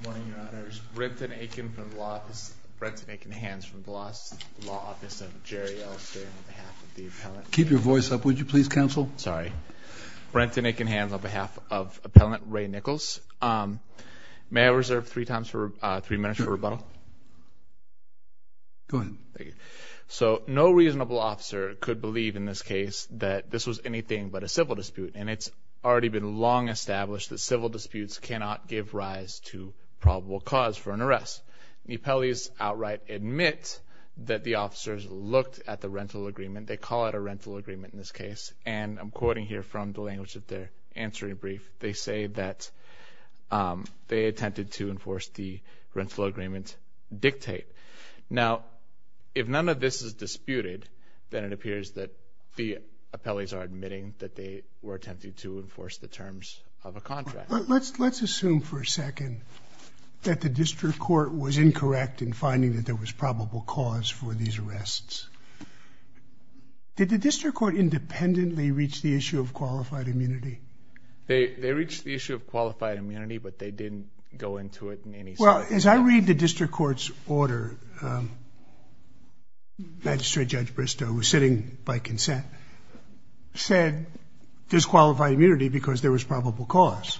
Good morning, your honors. Brenton Aiken from the law office. Brenton Aiken, hands from the law office of Jerry L. Sterling on behalf of the appellant. Keep your voice up, would you please, counsel? Sorry. Brenton Aiken, hands on behalf of appellant Ray Nichols. May I reserve three minutes for rebuttal? Go ahead. Thank you. So, no reasonable officer could believe in this case that this was anything but a civil dispute, and it's already been long established that civil disputes cannot give rise to probable cause for an arrest. The appellees outright admit that the officers looked at the rental agreement. They call it a rental agreement in this case, and I'm quoting here from the language of their answering brief. They say that they attempted to enforce the rental agreement dictate. Now, if none of this is disputed, then it appears that the appellees are admitting that they were attempting to enforce the terms of a contract. Let's assume for a second that the district court was incorrect in finding that there was probable cause for these arrests. Did the district court independently reach the issue of qualified immunity? They reached the issue of qualified immunity, but they didn't go into it in any sort of way. Well, as I read the district court's order, Magistrate Judge Bristow, who's sitting by consent, said there's qualified immunity because there was probable cause.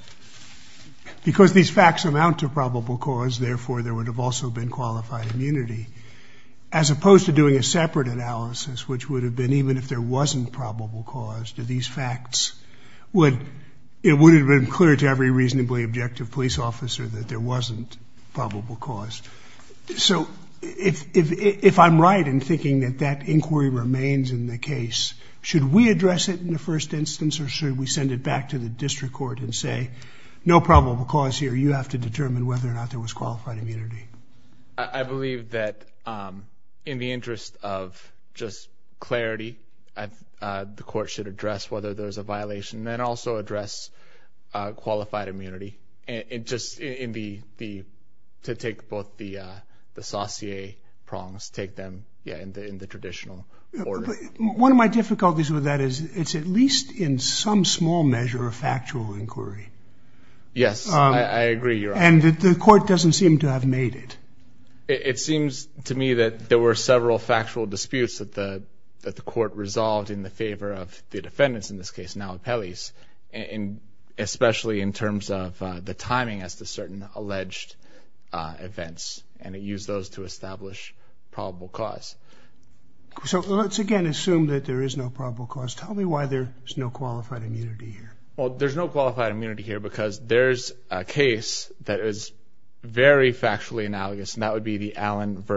Because these facts amount to probable cause, therefore, there would have also been qualified immunity, as opposed to doing a separate analysis, which would have been even if there wasn't probable cause, to these facts, it would have been clear to every reasonably objective police officer that there wasn't probable cause. So if I'm right in thinking that that inquiry remains in the case, should we address it in the first instance, or should we send it back to the district court and say, no probable cause here. You have to determine whether or not there was qualified immunity. I believe that in the interest of just clarity, the court should address whether there's a violation and also address qualified immunity to take both the saucier prongs, take them in the traditional order. One of my difficulties with that is it's at least in some small measure a factual inquiry. Yes, I agree. And the court doesn't seem to have made it. It seems to me that there were several factual disputes that the court resolved in the favor of the defendants, in this case now appellees, especially in terms of the timing as to certain alleged events, and it used those to establish probable cause. So let's again assume that there is no probable cause. Tell me why there's no qualified immunity here. Well, there's no qualified immunity here because there's a case that is very factually analogous, and that would be the Allen v.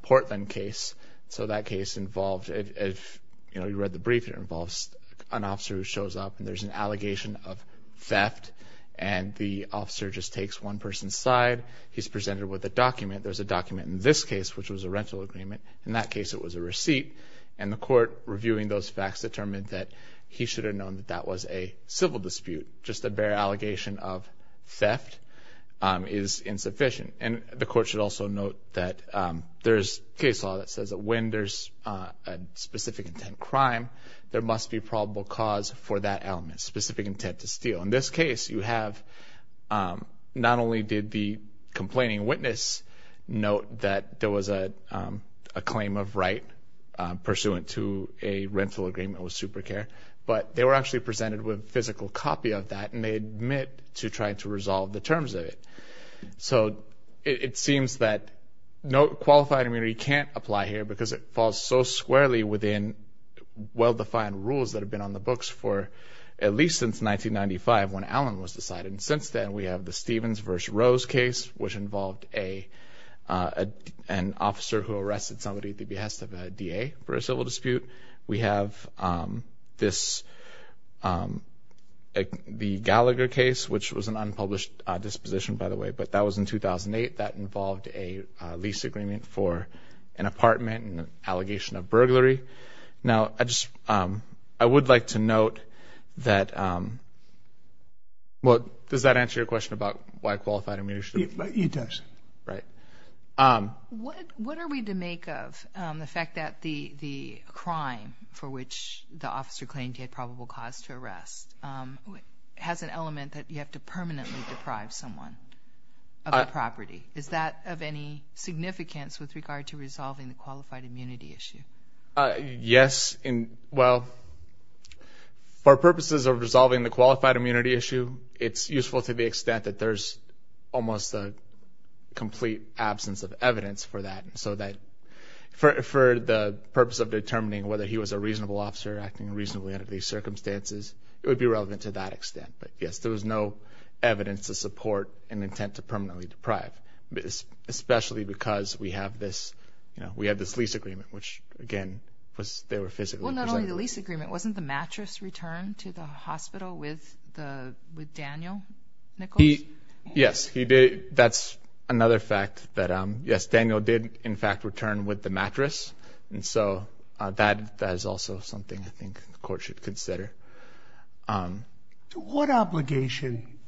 Portland case. So that case involved, if you read the brief, it involves an officer who shows up, and there's an allegation of theft, and the officer just takes one person's side. He's presented with a document. There's a document in this case, which was a rental agreement. In that case, it was a receipt. And the court, reviewing those facts, determined that he should have known that that was a civil dispute. Just a bare allegation of theft is insufficient. And the court should also note that there's case law that says that when there's a specific intent crime, there must be probable cause for that element, specific intent to steal. So in this case, you have not only did the complaining witness note that there was a claim of right pursuant to a rental agreement with SuperCare, but they were actually presented with a physical copy of that, and they admit to trying to resolve the terms of it. So it seems that no qualified immunity can't apply here because it falls so squarely within well-defined rules that have been on the books for at least since 1995 when Allen was decided. And since then, we have the Stevens v. Rose case, which involved an officer who arrested somebody at the behest of a DA for a civil dispute. We have the Gallagher case, which was an unpublished disposition, by the way, but that was in 2008. That involved a lease agreement for an apartment and an allegation of burglary. Now, I would like to note that, well, does that answer your question about why qualified immunity should apply? It does. Right. What are we to make of the fact that the crime for which the officer claimed he had probable cause to arrest has an element that you have to permanently deprive someone of the property? Is that of any significance with regard to resolving the qualified immunity issue? Yes. Well, for purposes of resolving the qualified immunity issue, it's useful to the extent that there's almost a complete absence of evidence for that, so that for the purpose of determining whether he was a reasonable officer acting reasonably under these circumstances, it would be relevant to that extent. But, yes, there was no evidence to support an intent to permanently deprive, especially because we have this lease agreement, which, again, they were physically present. Well, not only the lease agreement. Wasn't the mattress returned to the hospital with Daniel Nichols? Yes, he did. That's another fact that, yes, Daniel did, in fact, return with the mattress, and so that is also something I think the court should consider. What obligation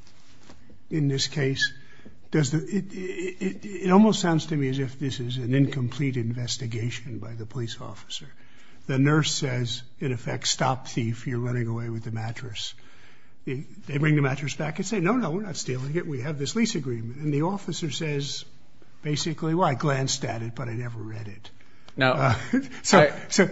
in this case does the – it almost sounds to me as if this is an incomplete investigation by the police officer. The nurse says, in effect, stop thief, you're running away with the mattress. They bring the mattress back and say, no, no, we're not stealing it, we have this lease agreement. And the officer says, basically, well, I glanced at it, but I never read it. No. So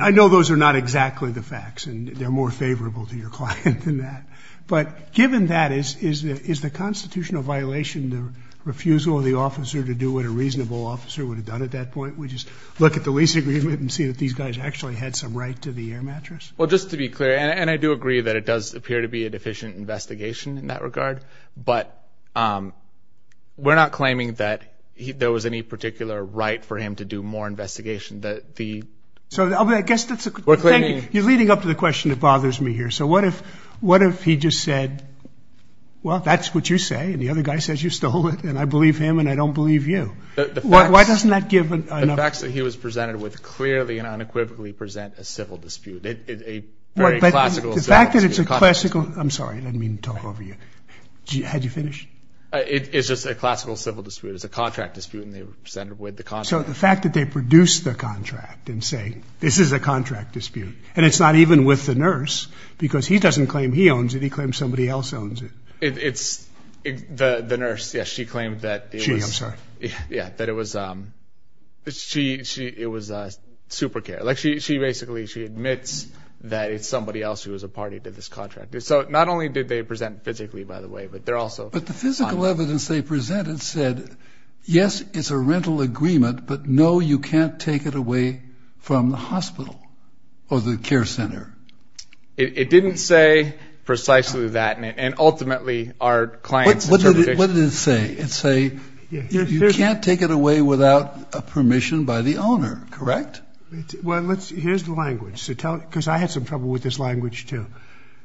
I know those are not exactly the facts, and they're more favorable to your client than that. But given that, is the constitutional violation the refusal of the officer to do what a reasonable officer would have done at that point, which is look at the lease agreement and see that these guys actually had some right to the air mattress? Well, just to be clear, and I do agree that it does appear to be a deficient investigation in that regard, but we're not claiming that there was any particular right for him to do more investigation. So I guess that's a – you're leading up to the question that bothers me here. So what if he just said, well, that's what you say, and the other guy says you stole it, and I believe him and I don't believe you. Why doesn't that give enough – The facts that he was presented with clearly and unequivocally present a civil dispute. But the fact that it's a classical – I'm sorry, I didn't mean to talk over you. Had you finished? It's just a classical civil dispute. It's a contract dispute, and they were presented with the contract. So the fact that they produced the contract and say this is a contract dispute, and it's not even with the nurse because he doesn't claim he owns it. He claims somebody else owns it. She, I'm sorry. That it's somebody else who is a party to this contract. So not only did they present physically, by the way, but they're also – But the physical evidence they presented said, yes, it's a rental agreement, but no, you can't take it away from the hospital or the care center. It didn't say precisely that, and ultimately our clients – What did it say? It say you can't take it away without permission by the owner, correct? Well, let's – here's the language. So tell – because I had some trouble with this language, too.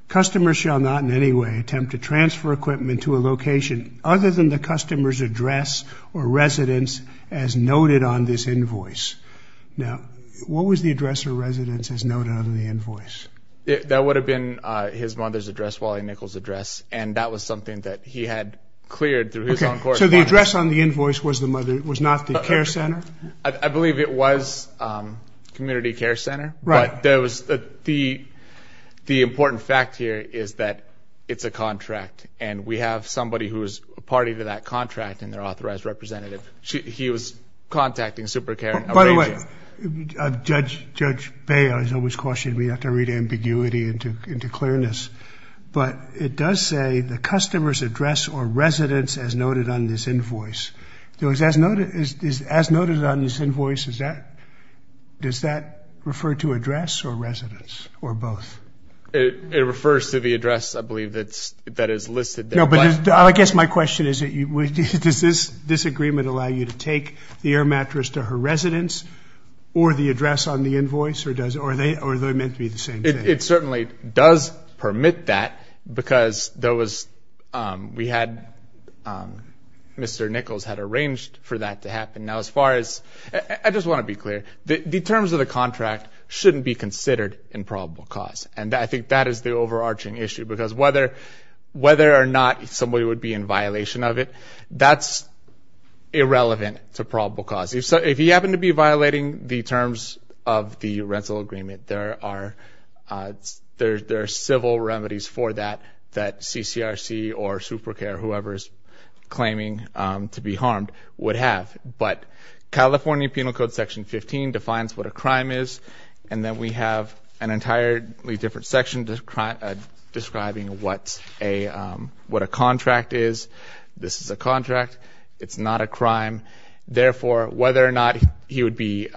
Customers shall not in any way attempt to transfer equipment to a location other than the customer's address or residence as noted on this invoice. Now, what was the address or residence as noted on the invoice? That would have been his mother's address, Wally Nichols' address, and that was something that he had cleared through his own correspondence. So the address on the invoice was the mother – was not the care center? I believe it was community care center. Right. But there was – the important fact here is that it's a contract, and we have somebody who is a party to that contract and their authorized representative. He was contacting SuperCare. By the way, Judge Baio has always cautioned me not to read ambiguity into clearness, but it does say the customer's address or residence as noted on this invoice. As noted on this invoice, does that refer to address or residence or both? It refers to the address, I believe, that is listed there. No, but I guess my question is, does this agreement allow you to take the air mattress to her residence or the address on the invoice, or are they meant to be the same thing? It certainly does permit that because there was – we had – Mr. Nichols had arranged for that to happen. Now, as far as – I just want to be clear. The terms of the contract shouldn't be considered in probable cause, and I think that is the overarching issue because whether or not somebody would be in violation of it, that's irrelevant to probable cause. If you happen to be violating the terms of the rental agreement, there are civil remedies for that that CCRC or SuperCare, whoever is claiming to be harmed, would have. But California Penal Code Section 15 defines what a crime is, and then we have an entirely different section describing what a contract is. This is a contract. It's not a crime. Therefore, whether or not he would be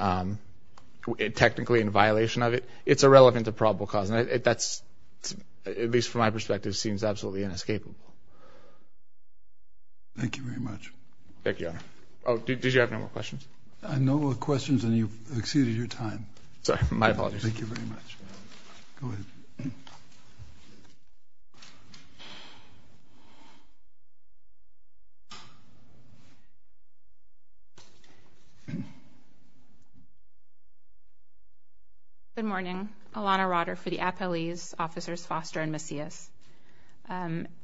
technically in violation of it, it's irrelevant to probable cause, and that's, at least from my perspective, seems absolutely inescapable. Thank you very much. Thank you, Your Honor. Oh, did you have no more questions? No more questions, and you've exceeded your time. Sorry, my apologies. Thank you very much. Go ahead. Good morning. Alana Rotter for the appellees, officers Foster and Macias.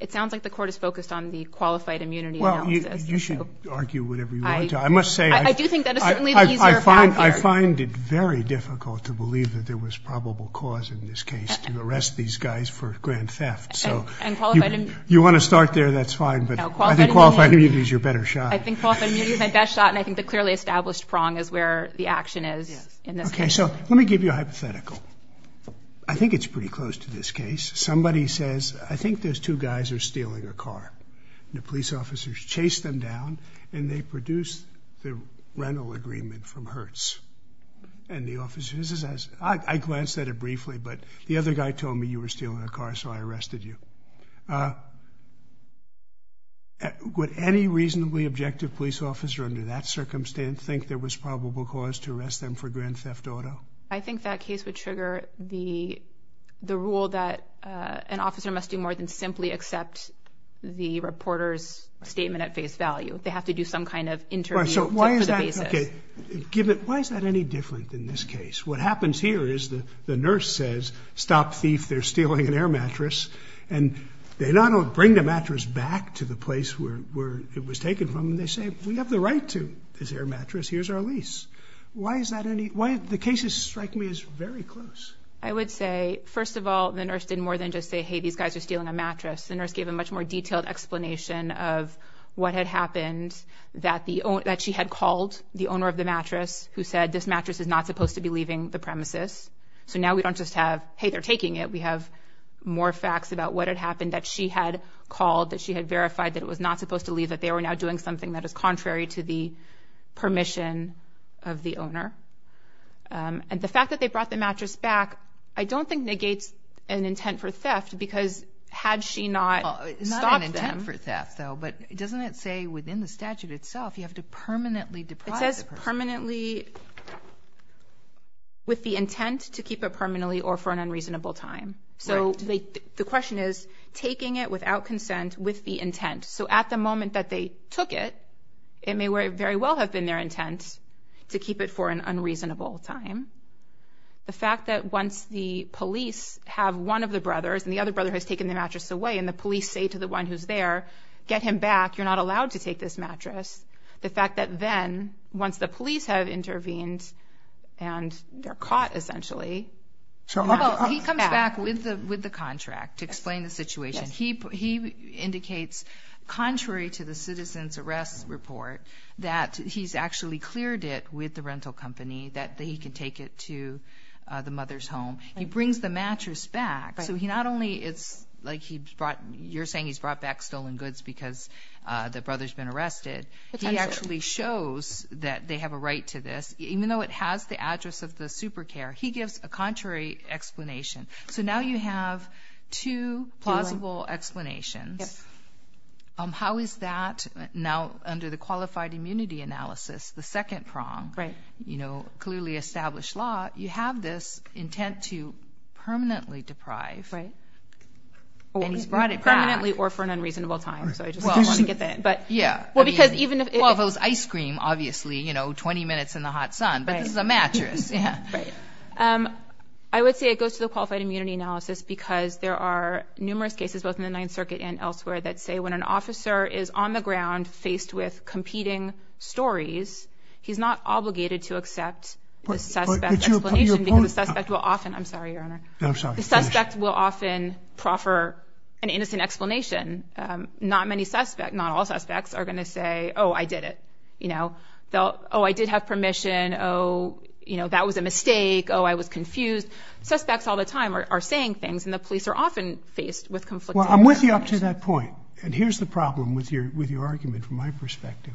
It sounds like the court is focused on the qualified immunity analysis. Well, you should argue whatever you want to. I must say I find it very difficult to believe that there was probable cause in this case to arrest these guys for grand theft. So you want to start there, that's fine, but I think qualified immunity is your better shot. I think qualified immunity is my best shot, and I think the clearly established prong is where the action is in this case. Okay, so let me give you a hypothetical. I think it's pretty close to this case. Somebody says, I think those two guys are stealing a car, and the police officers chase them down, and they produce the rental agreement from Hertz, and the officer says, I glanced at it briefly, but the other guy told me you were stealing a car, so I arrested you. Would any reasonably objective police officer under that circumstance think there was probable cause to arrest them for grand theft auto? I think that case would trigger the rule that an officer must do more than simply accept the reporter's statement at face value. They have to do some kind of interview for the basis. Why is that any different in this case? What happens here is the nurse says, stop thief, they're stealing an air mattress, and they not only bring the mattress back to the place where it was taken from, they say, we have the right to this air mattress, here's our lease. Why is that any, the cases strike me as very close. I would say, first of all, the nurse didn't more than just say, hey, these guys are stealing a mattress. The nurse gave a much more detailed explanation of what had happened, that she had called the owner of the mattress, who said this mattress is not supposed to be leaving the premises, so now we don't just have, hey, they're taking it, we have more facts about what had happened, that she had called, that she had verified that it was not supposed to leave, that they were now doing something that is contrary to the permission of the owner. And the fact that they brought the mattress back, I don't think negates an intent for theft, because had she not stopped them. Not an intent for theft, though, but doesn't it say within the statute itself, you have to permanently deprive the person? Permanently, with the intent to keep it permanently or for an unreasonable time. So the question is, taking it without consent, with the intent. So at the moment that they took it, it may very well have been their intent to keep it for an unreasonable time. The fact that once the police have one of the brothers, and the other brother has taken the mattress away, and the police say to the one who's there, get him back, you're not allowed to take this mattress. The fact that then, once the police have intervened, and they're caught essentially. He comes back with the contract to explain the situation. He indicates, contrary to the citizen's arrest report, that he's actually cleared it with the rental company, that he can take it to the mother's home. He brings the mattress back. So he not only, it's like you're saying he's brought back stolen goods because the brother's been arrested. He actually shows that they have a right to this, even though it has the address of the super care. He gives a contrary explanation. So now you have two plausible explanations. How is that now, under the qualified immunity analysis, the second prong, clearly established law, you have this intent to permanently deprive. Or he's brought it back. Permanently or for an unreasonable time. So I just want to get that in. Yeah. Well, because even if it. Well, if it was ice cream, obviously, you know, 20 minutes in the hot sun. But this is a mattress. Yeah. Right. I would say it goes to the qualified immunity analysis because there are numerous cases, both in the Ninth Circuit and elsewhere, that say when an officer is on the ground faced with competing stories, he's not obligated to accept the suspect's explanation because the suspect will often. I'm sorry, Your Honor. I'm sorry. The suspect will often proffer an innocent explanation. Not many suspects, not all suspects, are going to say, oh, I did it. You know, oh, I did have permission. Oh, you know, that was a mistake. Oh, I was confused. Suspects all the time are saying things. And the police are often faced with conflicting. Well, I'm with you up to that point. And here's the problem with your argument from my perspective.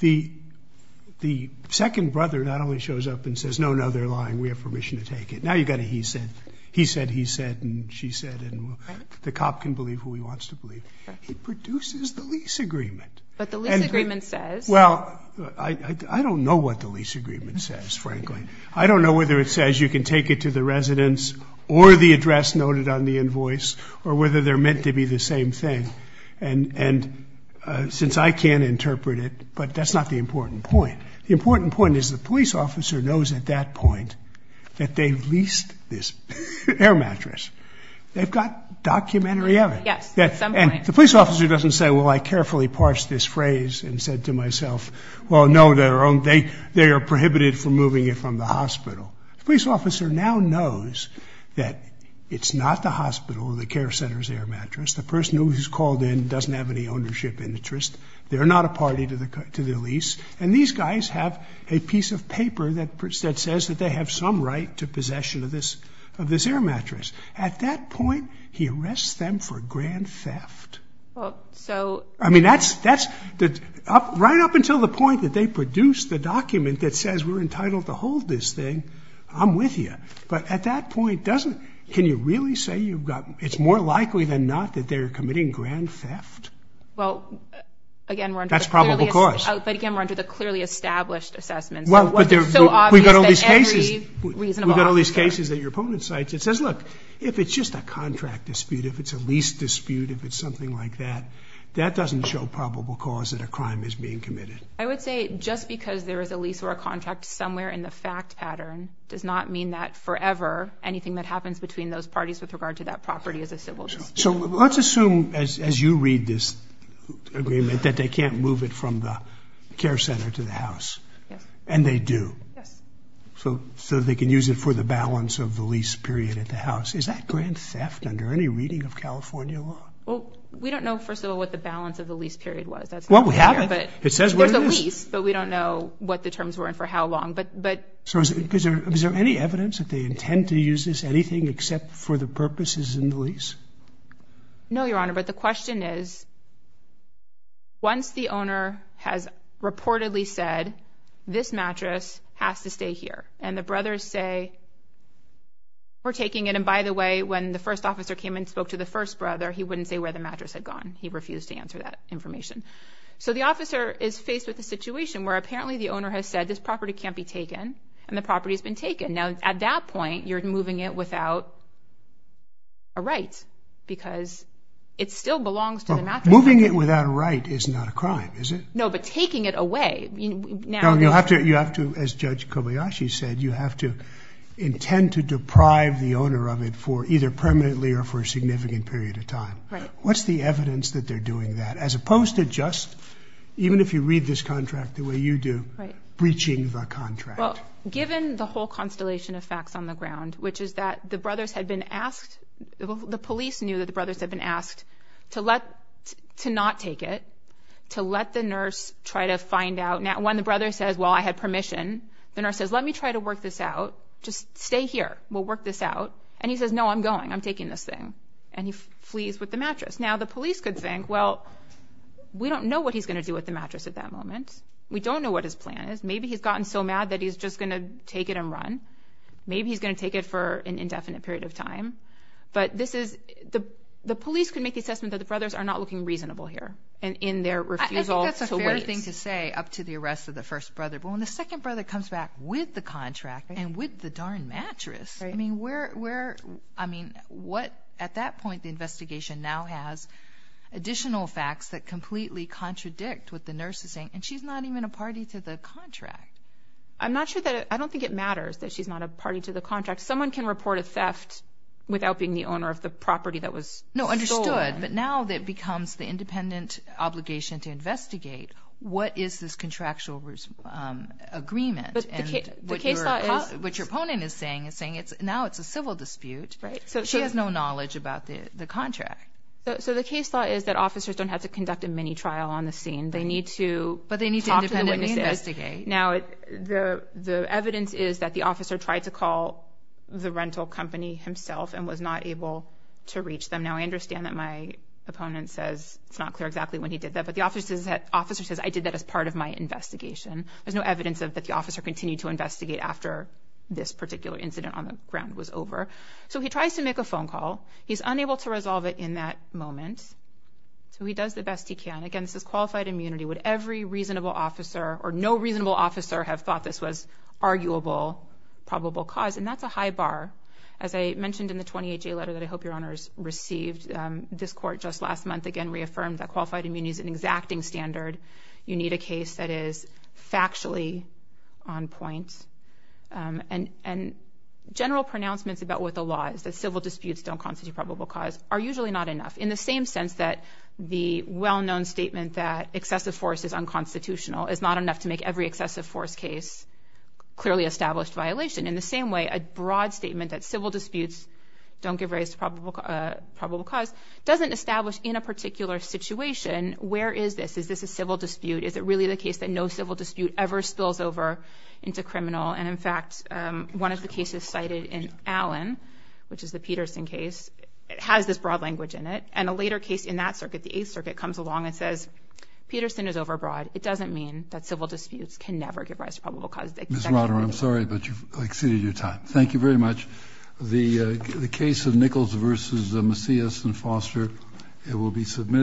The second brother not only shows up and says, no, no, they're lying. We have permission to take it. Now you've got a he said. He said, he said, and she said, and the cop can believe who he wants to believe. He produces the lease agreement. But the lease agreement says. Well, I don't know what the lease agreement says, frankly. I don't know whether it says you can take it to the residence or the address noted on the invoice or whether they're meant to be the same thing. And since I can't interpret it, but that's not the important point. The important point is the police officer knows at that point that they've leased this air mattress. They've got documentary evidence. And the police officer doesn't say, well, I carefully parsed this phrase and said to myself, well, no, they are prohibited from moving it from the hospital. The police officer now knows that it's not the hospital, the care center's air mattress. The person who was called in doesn't have any ownership interest. They're not a party to the lease. And these guys have a piece of paper that says that they have some right to possession of this air mattress. At that point, he arrests them for grand theft. I mean, right up until the point that they produce the document that says we're entitled to hold this thing, I'm with you. But at that point, can you really say it's more likely than not that they're committing grand theft? Well, again, we're under the clearly established assessment. We've got all these cases that your opponent cites. It says, look, if it's just a contract dispute, if it's a lease dispute, if it's something like that, that doesn't show probable cause that a crime is being committed. I would say just because there is a lease or a contract somewhere in the fact pattern does not mean that forever anything that happens between those parties with regard to that property is a civil dispute. So let's assume, as you read this agreement, that they can't move it from the care center to the house. And they do. So they can use it for the balance of the lease period at the house. Is that grand theft under any reading of California law? Well, we don't know, first of all, what the balance of the lease period was. Well, we have it. It says there's a lease, but we don't know what the terms were and for how long. So is there any evidence that they intend to use this, anything except for the purposes in the lease? No, Your Honor, but the question is, once the owner has reportedly said, this mattress has to stay here, and the brothers say, we're taking it. And by the way, when the first officer came and spoke to the first brother, he wouldn't say where the mattress had gone. He refused to answer that information. So the officer is faced with a situation where apparently the owner has said, this property can't be taken, and the property has been taken. Now, at that point, you're moving it without a right because it still belongs to the mattress. Moving it without a right is not a crime, is it? No, but taking it away. You have to, as Judge Kobayashi said, you have to intend to deprive the owner of it for either permanently or for a significant period of time. What's the evidence that they're doing that? As opposed to just, even if you read this contract the way you do, breaching the contract. Well, given the whole constellation of facts on the ground, which is that the brothers had been asked, the police knew that the brothers had been asked to not take it, to let the nurse try to find out. Now, when the brother says, well, I had permission, the nurse says, let me try to work this out. Just stay here. We'll work this out. And he says, no, I'm going. I'm taking this thing. And he flees with the mattress. Now, the police could think, well, we don't know what he's going to do with the mattress at that moment. We don't know what his plan is. Maybe he's gotten so mad that he's just going to take it and run. Maybe he's going to take it for an indefinite period of time. But the police could make the assessment that the brothers are not looking reasonable here in their refusal to wait. I think that's a fair thing to say up to the arrest of the first brother. But when the second brother comes back with the contract and with the darn mattress, I mean, at that point, the investigation now has additional facts that completely contradict what the nurse is saying. And she's not even a party to the contract. I'm not sure that – I don't think it matters that she's not a party to the contract. Someone can report a theft without being the owner of the property that was stolen. No, understood. But now that it becomes the independent obligation to investigate, what is this contractual agreement? What your opponent is saying is saying now it's a civil dispute. She has no knowledge about the contract. So the case law is that officers don't have to conduct a mini-trial on the scene. They need to talk to the witnesses. But they need to independently investigate. Now, the evidence is that the officer tried to call the rental company himself and was not able to reach them. Now, I understand that my opponent says it's not clear exactly when he did that. But the officer says, I did that as part of my investigation. There's no evidence that the officer continued to investigate after this particular incident on the ground was over. So he tries to make a phone call. He's unable to resolve it in that moment. So he does the best he can. Again, this is qualified immunity. Would every reasonable officer or no reasonable officer have thought this was arguable, probable cause? And that's a high bar. As I mentioned in the 28-J letter that I hope your honors received, this court just last month, again, reaffirmed that qualified immunity is an exacting standard. You need a case that is factually on point. And general pronouncements about what the law is, that civil disputes don't constitute probable cause, are usually not enough in the same sense that the well-known statement that excessive force is unconstitutional is not enough to make every excessive force case clearly established violation. In the same way, a broad statement that civil disputes don't give rise to probable cause doesn't establish in a particular situation where is this. Is this a civil dispute? Is it really the case that no civil dispute ever spills over into criminal? And, in fact, one of the cases cited in Allen, which is the Peterson case, has this broad language in it. And a later case in that circuit, the Eighth Circuit, comes along and says, Peterson is overbroad. It doesn't mean that civil disputes can never give rise to probable cause. Ms. Rotter, I'm sorry, but you've exceeded your time. Thank you very much. The case of Nichols v. Macias and Foster will be submitted.